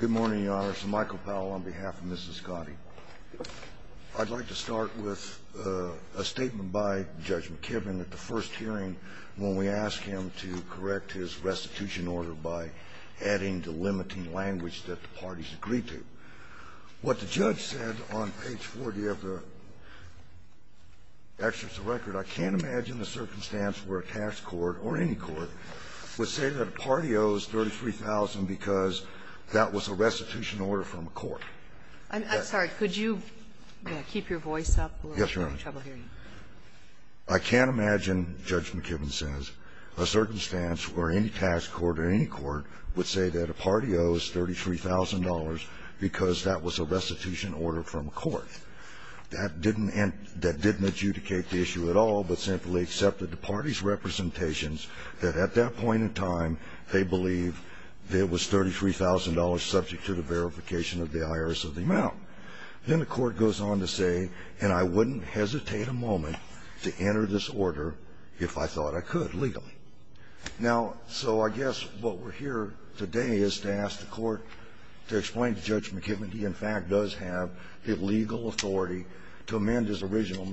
Good morning, Your Honor. It's Michael Powell on behalf of Mrs. Cottey. I'd like to start with a statement by Judge McKibben at the first hearing when we asked him to correct his restitution order by adding the limiting language that the parties agreed to. What the judge said on page 40 of the excerpt of the record, I can't imagine a circumstance where a tax court or any court would say that a party owes $33,000 because that was a restitution order from a court. I'm sorry. Could you keep your voice up? Yes, Your Honor. I'm having trouble hearing you. I can't imagine, Judge McKibben says, a circumstance where any tax court or any court would say that a party owes $33,000 because that was a restitution order from a court. That didn't adjudicate the issue at all, but simply accepted the party's representations that at that point in time they believed it was $33,000 subject to the verification of the IRS of the amount. Then the court goes on to say, and I wouldn't hesitate a moment to enter this order if I thought I could legally. Now, so I guess what we're here today is to ask the Court to explain to Judge McKibben he in fact does have the legal authority to amend his original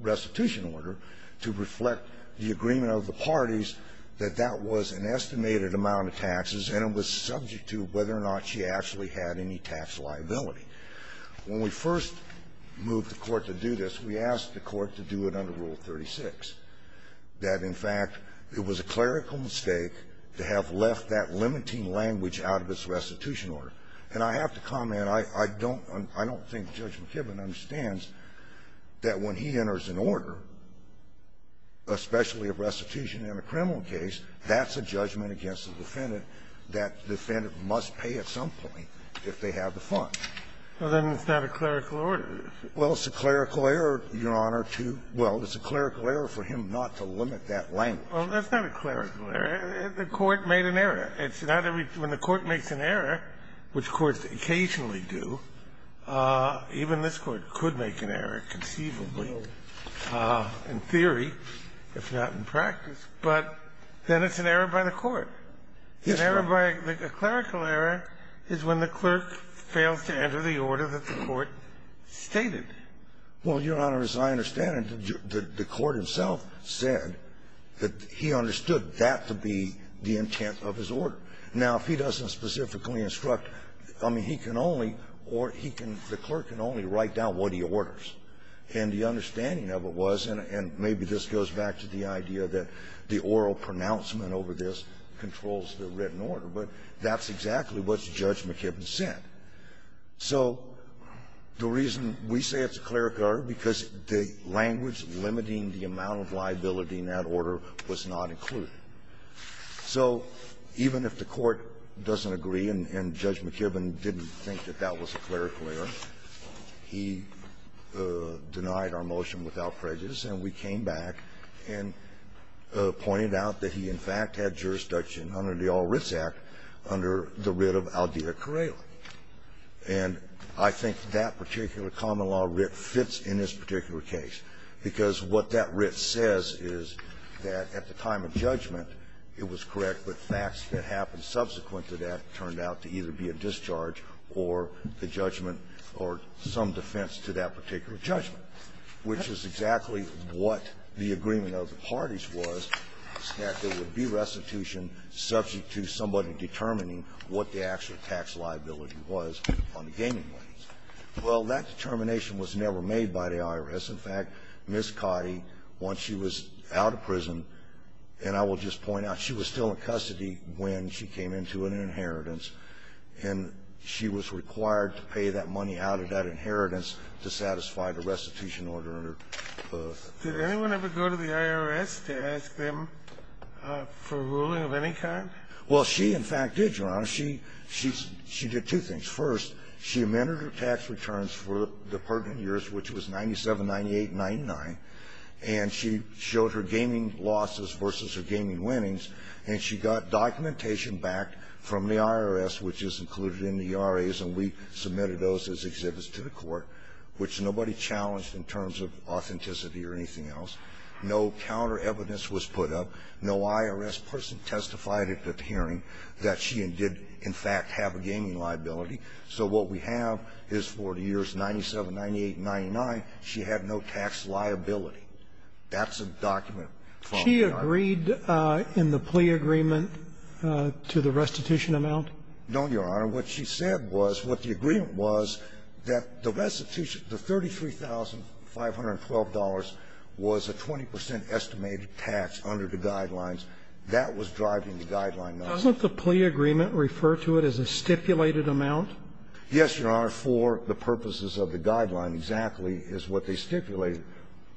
restitution order to reflect the agreement of the parties that that was an estimated amount of taxes and it was subject to whether or not she actually had any tax liability. When we first moved the Court to do this, we asked the Court to do it under Rule 136, that in fact it was a clerical mistake to have left that limiting language out of its restitution order. And I have to comment, I don't think Judge McKibben understands that when he enters an order, especially a restitution in a criminal case, that's a judgment against the defendant that the defendant must pay at some point if they have the funds. Well, then it's not a clerical order. Well, it's a clerical error, Your Honor, to – well, it's a clerical error. It's a clerical error for him not to limit that language. Well, that's not a clerical error. The Court made an error. It's not every – when the Court makes an error, which courts occasionally do, even this Court could make an error conceivably in theory, if not in practice, but then it's an error by the Court. It's an error by – a clerical error is when the clerk fails to enter the order that the Court stated. Well, Your Honor, as I understand it, the Court himself said that he understood that to be the intent of his order. Now, if he doesn't specifically instruct – I mean, he can only – or he can – the clerk can only write down what he orders. And the understanding of it was, and maybe this goes back to the idea that the oral pronouncement over this controls the written order, but that's exactly what Judge McKibben said. So the reason we say it's a clerical error, because the language limiting the amount of liability in that order was not included. So even if the Court doesn't agree and Judge McKibben didn't think that that was a clerical error, he denied our motion without prejudice, and we came back and pointed out that he, in fact, had jurisdiction under the Oral Writs Act under the writ of Claudia Kareli. And I think that particular common law writ fits in this particular case, because what that writ says is that at the time of judgment it was correct, but facts that happened subsequent to that turned out to either be a discharge or the judgment or some defense to that particular judgment, which is exactly what the agreement of the parties was, that there would be restitution subject to somebody determining what the actual tax liability was on the gaming license. Well, that determination was never made by the IRS. In fact, Ms. Cotty, once she was out of prison, and I will just point out, she was still in custody when she came into an inheritance, and she was required to pay that money out of that inheritance to satisfy the restitution order under the act. Kennedy, did anyone ever go to the IRS to ask them for a ruling of any kind? Well, she, in fact, did, Your Honor. She did two things. First, she amended her tax returns for the pertinent years, which was 97, 98, 99, and she showed her gaming losses versus her gaming winnings, and she got documentation back from the IRS, which is included in the RAs, and we submitted those as exhibits to the court, which nobody challenged in terms of authenticity or anything else. No counter evidence was put up. No IRS person testified at the hearing that she did, in fact, have a gaming liability. So what we have is for the years 97, 98, and 99, she had no tax liability. That's a document from the IRS. She agreed in the plea agreement to the restitution amount? No, Your Honor. What she said was, what the agreement was, that the restitution, the $33,512 was a 20 percent estimated tax under the guidelines. That was driving the guideline. Doesn't the plea agreement refer to it as a stipulated amount? Yes, Your Honor. For the purposes of the guideline, exactly, is what they stipulated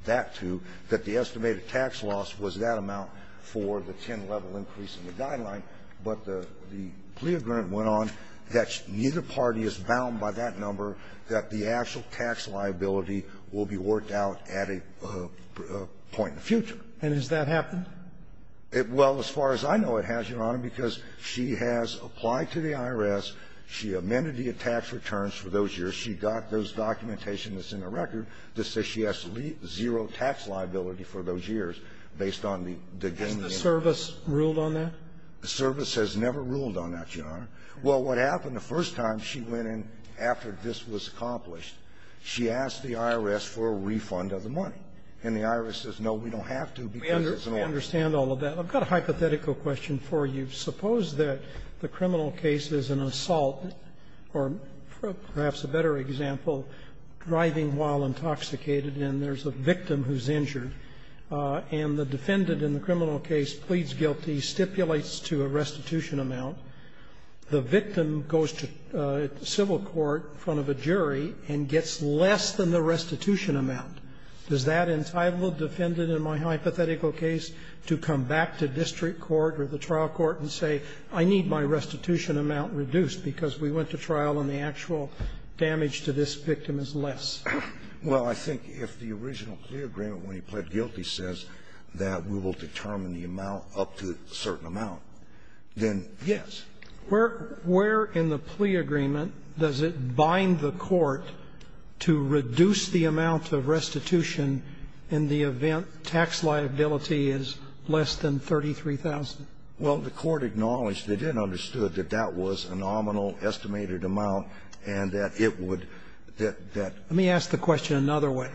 that to, that the estimated tax loss was that amount for the 10-level increase in the guideline. But the plea agreement went on that neither party is bound by that number, that the actual tax liability will be worked out at a point in the future. And has that happened? Well, as far as I know, it has, Your Honor, because she has applied to the IRS. She amended the tax returns for those years. She got those documentation that's in the record that says she has zero tax liability for those years based on the gaming impact. Has the service ruled on that? The service has never ruled on that, Your Honor. Well, what happened the first time she went in after this was accomplished, she asked the IRS for a refund of the money. And the IRS says, no, we don't have to because it's an order. We understand all of that. I've got a hypothetical question for you. Suppose that the criminal case is an assault, or perhaps a better example, driving while intoxicated, and there's a victim who's injured, and the defendant in the criminal case pleads guilty, stipulates to a restitution amount. The victim goes to civil court in front of a jury and gets less than the restitution amount. Does that entitle the defendant in my hypothetical case to come back to district court or the trial court and say, I need my restitution amount reduced because we went to trial and the actual damage to this victim is less? Well, I think if the original clear agreement, when he pled guilty, says that we will determine the amount up to a certain amount, then, yes. Where in the plea agreement does it bind the court to reduce the amount of restitution in the event tax liability is less than $33,000? Well, the court acknowledged they didn't understand that that was a nominal estimated amount and that it would that that. Yes, sir.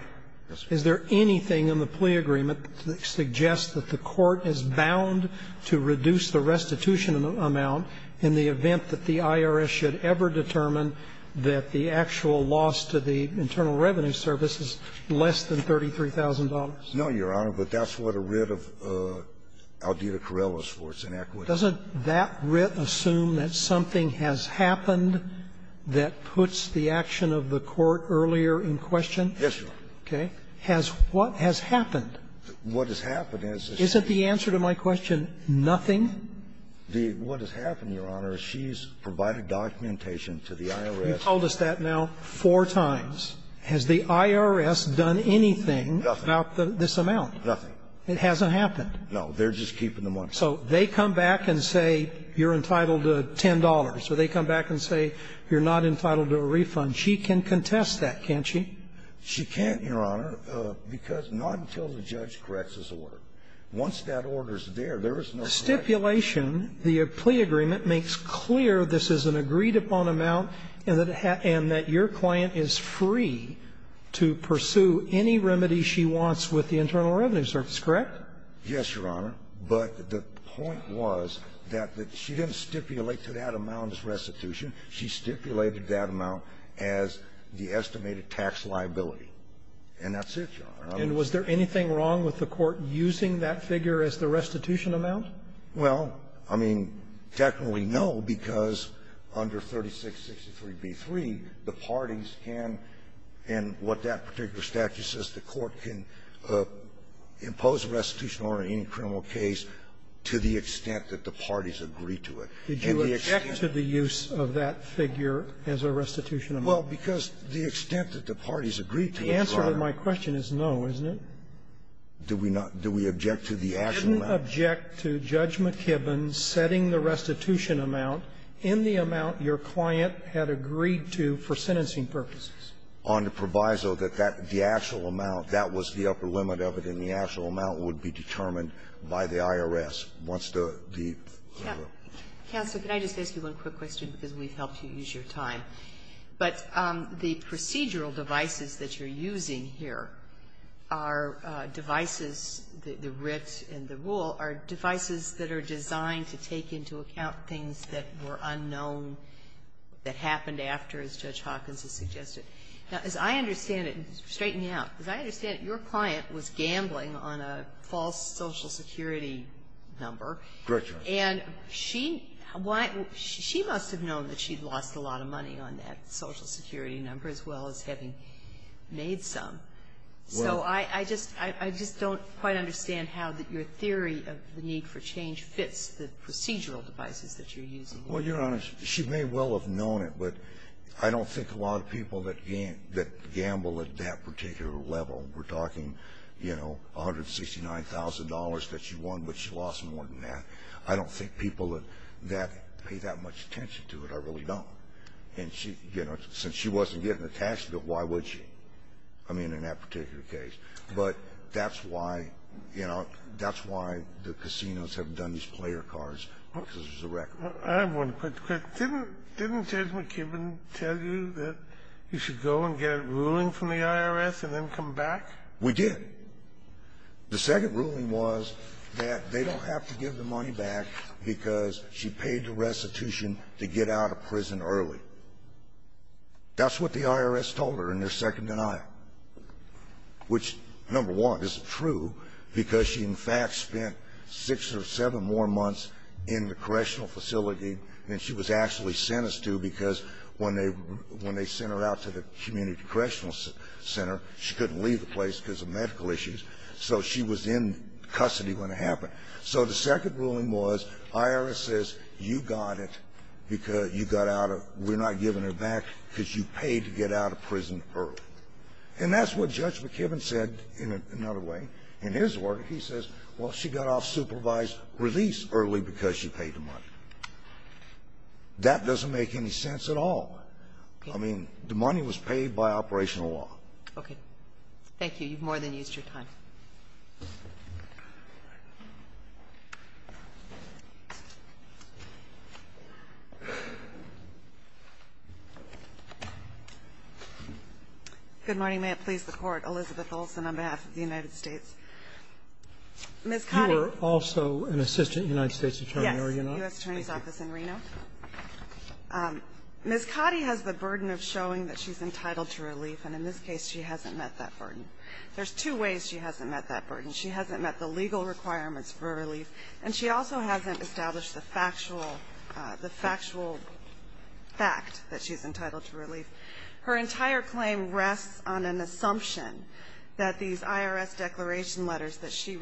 Is there anything in the plea agreement that suggests that the court is bound to reduce the restitution amount in the event that the IRS should ever determine that the actual loss to the Internal Revenue Service is less than $33,000? No, Your Honor, but that's what a writ of Aldita Carrello is for, it's an acquittal. Doesn't that writ assume that something has happened that puts the action of the court earlier in question? Yes, Your Honor. Okay. Has what has happened? What has happened is that she's been to the IRS four times, has the IRS done anything about this amount? Nothing. It hasn't happened. No. They're just keeping the money. So they come back and say you're entitled to $10, or they come back and say you're not entitled to a refund. She can contest that, can't she? She can't, Your Honor. Your Honor, because not until the judge corrects this order. Once that order is there, there is no correction. Stipulation, the plea agreement makes clear this is an agreed-upon amount and that your client is free to pursue any remedy she wants with the Internal Revenue Service, correct? Yes, Your Honor, but the point was that she didn't stipulate to that amount as restitution. She stipulated that amount as the estimated tax liability. And that's it, Your Honor. And was there anything wrong with the Court using that figure as the restitution amount? Well, I mean, technically, no, because under 3663b3, the parties can, and what that particular statute says, the Court can impose a restitution order in any criminal case to the extent that the parties agree to it. Did you object to the use of that figure as a restitution amount? Well, because the extent that the parties agreed to it, Your Honor. The answer to my question is no, isn't it? Do we not do we object to the actual amount? You didn't object to Judge McKibben setting the restitution amount in the amount your client had agreed to for sentencing purposes. On the proviso that the actual amount, that was the upper limit of it, and the actual amount would be determined by the IRS once the the order. Counsel, can I just ask you one quick question, because we've helped you use your time? But the procedural devices that you're using here are devices, the writ and the rule, are devices that are designed to take into account things that were unknown, that happened after, as Judge Hawkins has suggested. Now, as I understand it, and to straighten you out, as I understand it, your client was gambling on a false Social Security number. Correct, Your Honor. And she must have known that she'd lost a lot of money on that Social Security number, as well as having made some. So I just don't quite understand how that your theory of the need for change fits the procedural devices that you're using here. Well, Your Honor, she may well have known it, but I don't think a lot of people that gamble at that particular level. We're talking $169,000 that she won, but she lost more than that. I don't think people that pay that much attention to it. I really don't. And she, you know, since she wasn't getting a tax bill, why would she? I mean, in that particular case. But that's why, you know, that's why the casinos have done these player cards, because there's a record. I have one quick question. Didn't Judge McKibben tell you that you should go and get a ruling from the IRS and then come back? We did. The second ruling was that they don't have to give the money back because she paid the restitution to get out of prison early. That's what the IRS told her in their second denial, which, number one, is true, because she, in fact, spent six or seven more months in the correctional facility than she was actually sentenced to, because when they sent her out to the community correctional center, she couldn't leave the place because of medical issues. So she was in custody when it happened. So the second ruling was, IRS says, you got it because you got out of we're not giving her back because you paid to get out of prison early. And that's what Judge McKibben said in another way. In his word, he says, well, she got off supervised release early because she paid the money. That doesn't make any sense at all. I mean, the money was paid by operational law. Okay. Thank you. You've more than used your time. Good morning. May it please the Court. Elizabeth Olson on behalf of the United States. Ms. Cotty. You were also an assistant United States attorney, were you not? Yes. U.S. Attorney's Office in Reno. Ms. Cotty has the burden of showing that she's entitled to relief. And in this case, she hasn't met that burden. There's two ways she hasn't met that burden. She hasn't met the legal requirements for relief. And she also hasn't established the factual fact that she's entitled to relief. Her entire claim rests on an assumption that these IRS declaration letters that she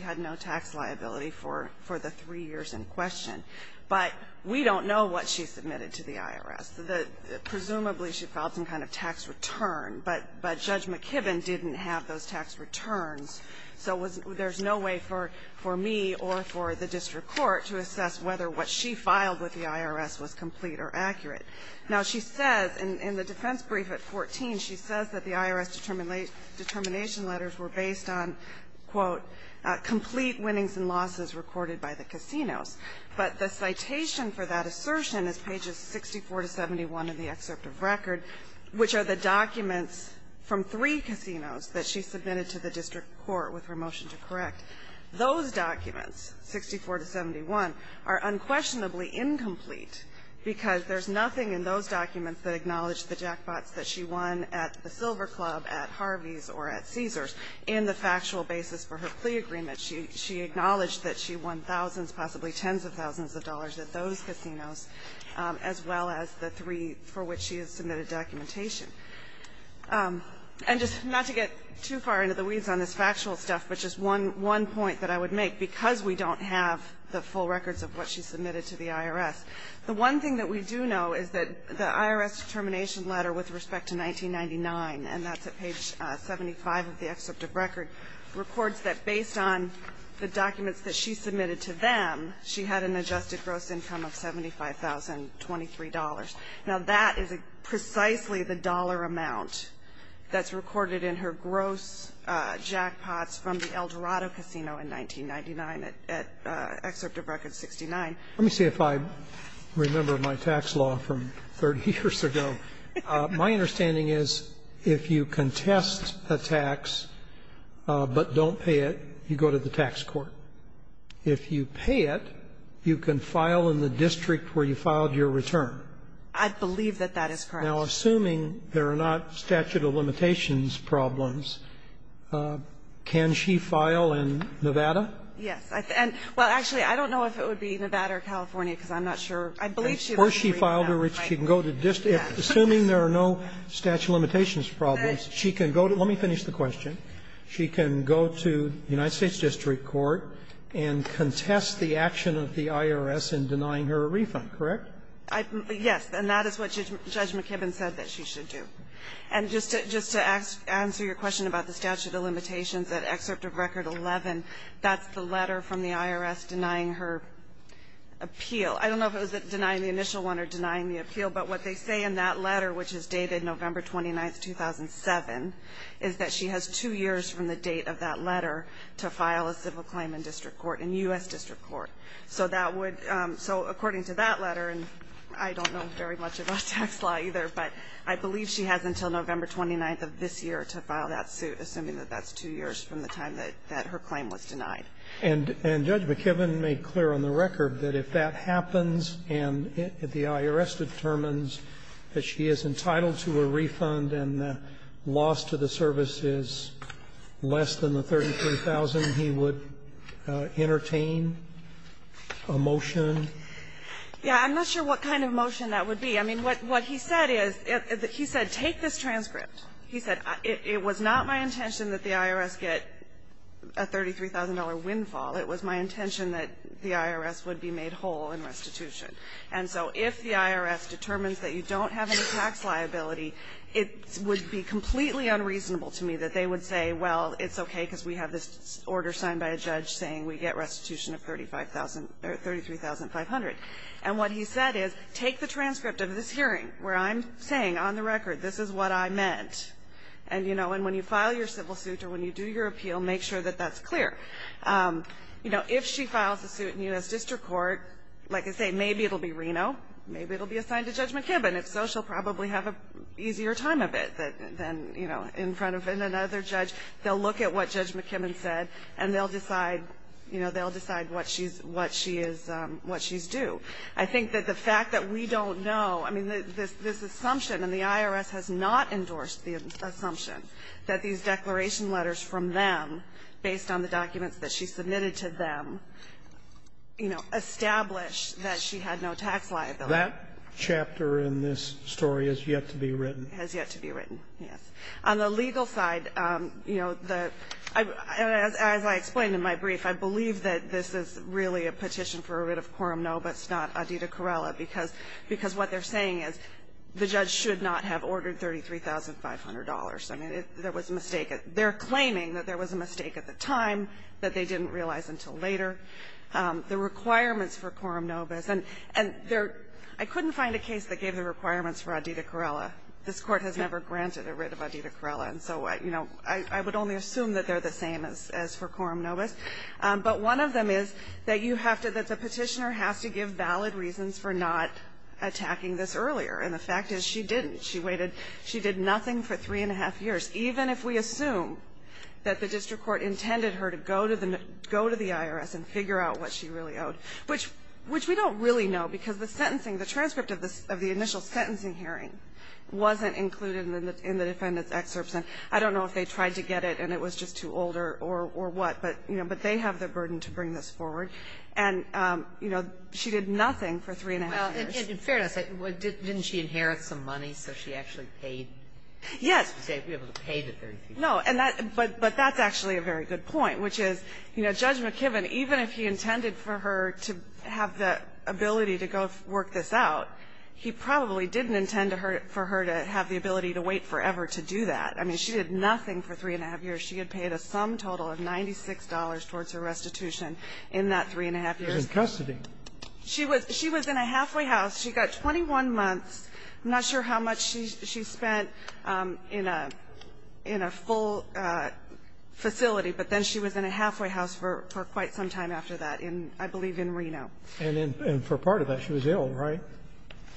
had no tax liability for the three years in question. But we don't know what she submitted to the IRS. Presumably, she filed some kind of tax return, but Judge McKibben didn't have those tax returns. So there's no way for me or for the district court to assess whether what she filed with the IRS was complete or accurate. Now, she says in the defense brief at 14, she says that the IRS determination letters were based on, quote, complete winnings and losses recorded by the casinos. But the citation for that assertion is pages 64 to 71 in the excerpt of record, which are the documents from three casinos that she submitted to the district court with her motion to correct. Those documents, 64 to 71, are unquestionably incomplete because there's nothing in those documents that acknowledge the jackpots that she won at the Silver Club, at Harvey's, or at Caesars in the factual basis for her plea agreement. She acknowledged that she won thousands, possibly tens of thousands of dollars at those casinos, as well as the three for which she has submitted documentation. And just not to get too far into the weeds on this factual stuff, but just one point that I would make, because we don't have the full records of what she submitted to the IRS, the one thing that we do know is that the IRS determination letter with respect to 1999, and that's at page 75 of the excerpt of record, records that based on the documents that she submitted to them, she had an adjusted gross income of $75,023. Now, that is precisely the dollar amount that's recorded in her gross jackpots from the El Dorado Casino in 1999 at excerpt of record 69. Let me see if I remember my tax law from 30 years ago. My understanding is if you contest a tax but don't pay it, you go to the tax court. If you pay it, you can file in the district where you filed your return. I believe that that is correct. Now, assuming there are not statute of limitations problems, can she file in Nevada? Yes. Well, actually, I don't know if it would be Nevada or California, because I'm not sure. I believe she would be in Reno. Assuming there are no statute of limitations problems, she can go to the United States district court and contest the action of the IRS in denying her a refund, correct? Yes. And that is what Judge McKibben said that she should do. And just to answer your question about the statute of limitations, at excerpt of record 11, that's the letter from the IRS denying her appeal. I don't know if it was denying the initial one or denying the appeal, but what they say in that letter, which is dated November 29, 2007, is that she has two years from the date of that letter to file a civil claim in district court, in U.S. district court. So according to that letter, and I don't know very much about tax law either, but I believe she has until November 29th of this year to file that suit, assuming that that's two years from the time that her claim was denied. And Judge McKibben made clear on the record that if that happens and if the IRS determines that she is entitled to a refund and the loss to the service is less than the $33,000, he would entertain a motion? Yes. I'm not sure what kind of motion that would be. I mean, what he said is, he said, take this transcript. He said, it was not my intention that the IRS get a $33,000 windfall. It was my intention that the IRS would be made whole in restitution. And so if the IRS determines that you don't have any tax liability, it would be completely unreasonable to me that they would say, well, it's okay because we have this order signed by a judge saying we get restitution of $33,500. And what he said is, take the transcript of this hearing where I'm saying on the And, you know, and when you file your civil suit or when you do your appeal, make sure that that's clear. You know, if she files a suit in U.S. District Court, like I say, maybe it'll be Reno. Maybe it'll be assigned to Judge McKibben. If so, she'll probably have an easier time of it than, you know, in front of another judge. They'll look at what Judge McKibben said and they'll decide, you know, they'll decide what she is, what she's due. I think that the fact that we don't know, I mean, this assumption and the IRS has not endorsed the assumption that these declaration letters from them, based on the documents that she submitted to them, you know, established that she had no tax liability. That chapter in this story has yet to be written. Has yet to be written, yes. On the legal side, you know, the as I explained in my brief, I believe that this is really a petition for a writ of quorum, no, but it's not Adida Corella, because what they're saying is the judge should not have ordered $33,500. I mean, there was a mistake. They're claiming that there was a mistake at the time that they didn't realize until later. The requirements for quorum nobis, and there — I couldn't find a case that gave the requirements for Adida Corella. This Court has never granted a writ of Adida Corella, and so, you know, I would only assume that they're the same as for quorum nobis. But one of them is that you have to — that the petitioner has to give valid reasons for not attacking this earlier. And the fact is, she didn't. She waited — she did nothing for three and a half years, even if we assume that the district court intended her to go to the IRS and figure out what she really owed, which we don't really know, because the sentencing — the transcript of the initial sentencing hearing wasn't included in the defendant's excerpts. And I don't know if they tried to get it and it was just too old or what, but, you know, but they have the burden to bring this forward. And, you know, she did nothing for three and a half years. Sotomayor, in fairness, didn't she inherit some money, so she actually paid? Yes. So you're able to pay the $30,000. No. And that — but that's actually a very good point, which is, you know, Judge McKibben, even if he intended for her to have the ability to go work this out, he probably didn't intend for her to have the ability to wait forever to do that. I mean, she did nothing for three and a half years. She had paid a sum total of $96 towards her restitution in that three and a half She was in custody. She was — she was in a halfway house. She got 21 months. I'm not sure how much she spent in a — in a full facility, but then she was in a halfway house for quite some time after that in, I believe, in Reno. And in — and for part of that, she was ill, right?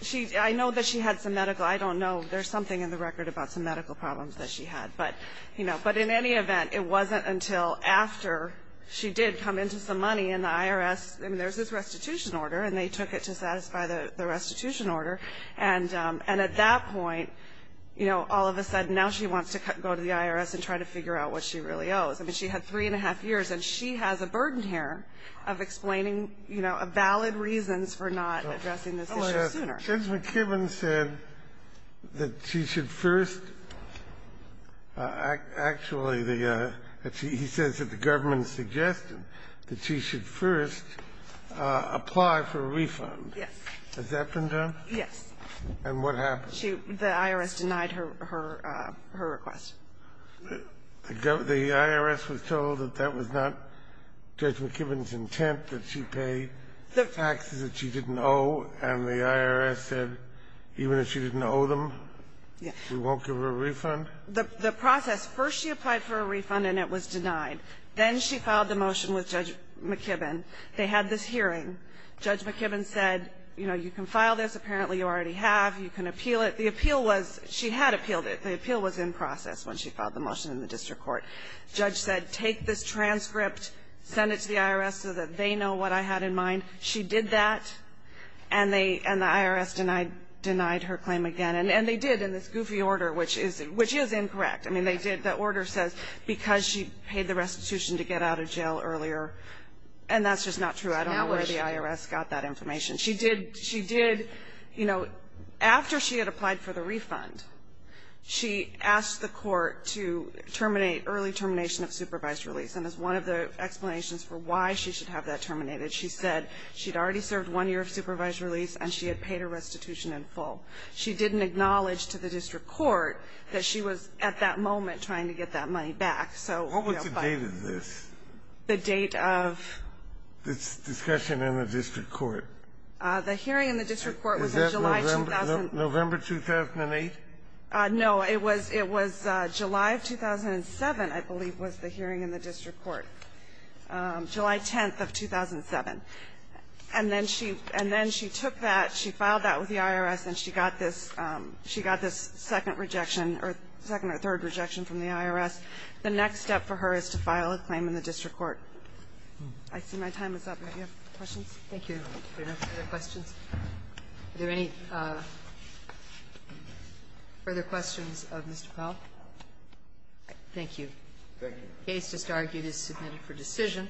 She — I know that she had some medical — I don't know. There's something in the record about some medical problems that she had. But, you know, but in any event, it wasn't until after she did come into some money in the IRS — I mean, there's this restitution order, and they took it to satisfy the restitution order. And at that point, you know, all of a sudden, now she wants to go to the IRS and try to figure out what she really owes. I mean, she had three and a half years, and she has a burden here of explaining, you know, valid reasons for not addressing this issue sooner. Judge McKibben said that she should first — actually, the — he says that the government suggested that she should first apply for a refund. Yes. Has that been done? Yes. And what happened? She — the IRS denied her — her — her request. The IRS was told that that was not Judge McKibben's intent, that she paid taxes that she didn't owe, and the IRS said, even if she didn't owe them, we won't give her a refund? The process — first she applied for a refund, and it was denied. Then she filed the motion with Judge McKibben. They had this hearing. Judge McKibben said, you know, you can file this. Apparently, you already have. You can appeal it. The appeal was — she had appealed it. The appeal was in process when she filed the motion in the district court. Judge said, take this transcript, send it to the IRS so that they know what I had in mind. She did that, and they — and the IRS denied — denied her claim again. And they did in this goofy order, which is — which is incorrect. I mean, they did — the order says, because she paid the restitution to get out of jail earlier. And that's just not true. I don't know where the IRS got that information. She did — she did, you know, after she had applied for the refund, she asked the court to terminate — early termination of supervised release. And as one of the explanations for why she should have that terminated, she said, she'd already served one year of supervised release, and she had paid her restitution in full. She didn't acknowledge to the district court that she was, at that moment, trying to get that money back. So, you know, but — What was the date of this? The date of — This discussion in the district court. The hearing in the district court was in July — Is that November — November 2008? No. It was — it was July of 2007, I believe, was the hearing in the district court, July 10th of 2007. And then she — and then she took that, she filed that with the IRS, and she got this — she got this second rejection, or second or third rejection from the IRS. The next step for her is to file a claim in the district court. I see my time is up. Do you have questions? Thank you. If there are no further questions. Are there any further questions of Mr. Powell? Thank you. The case just argued is submitted for decision.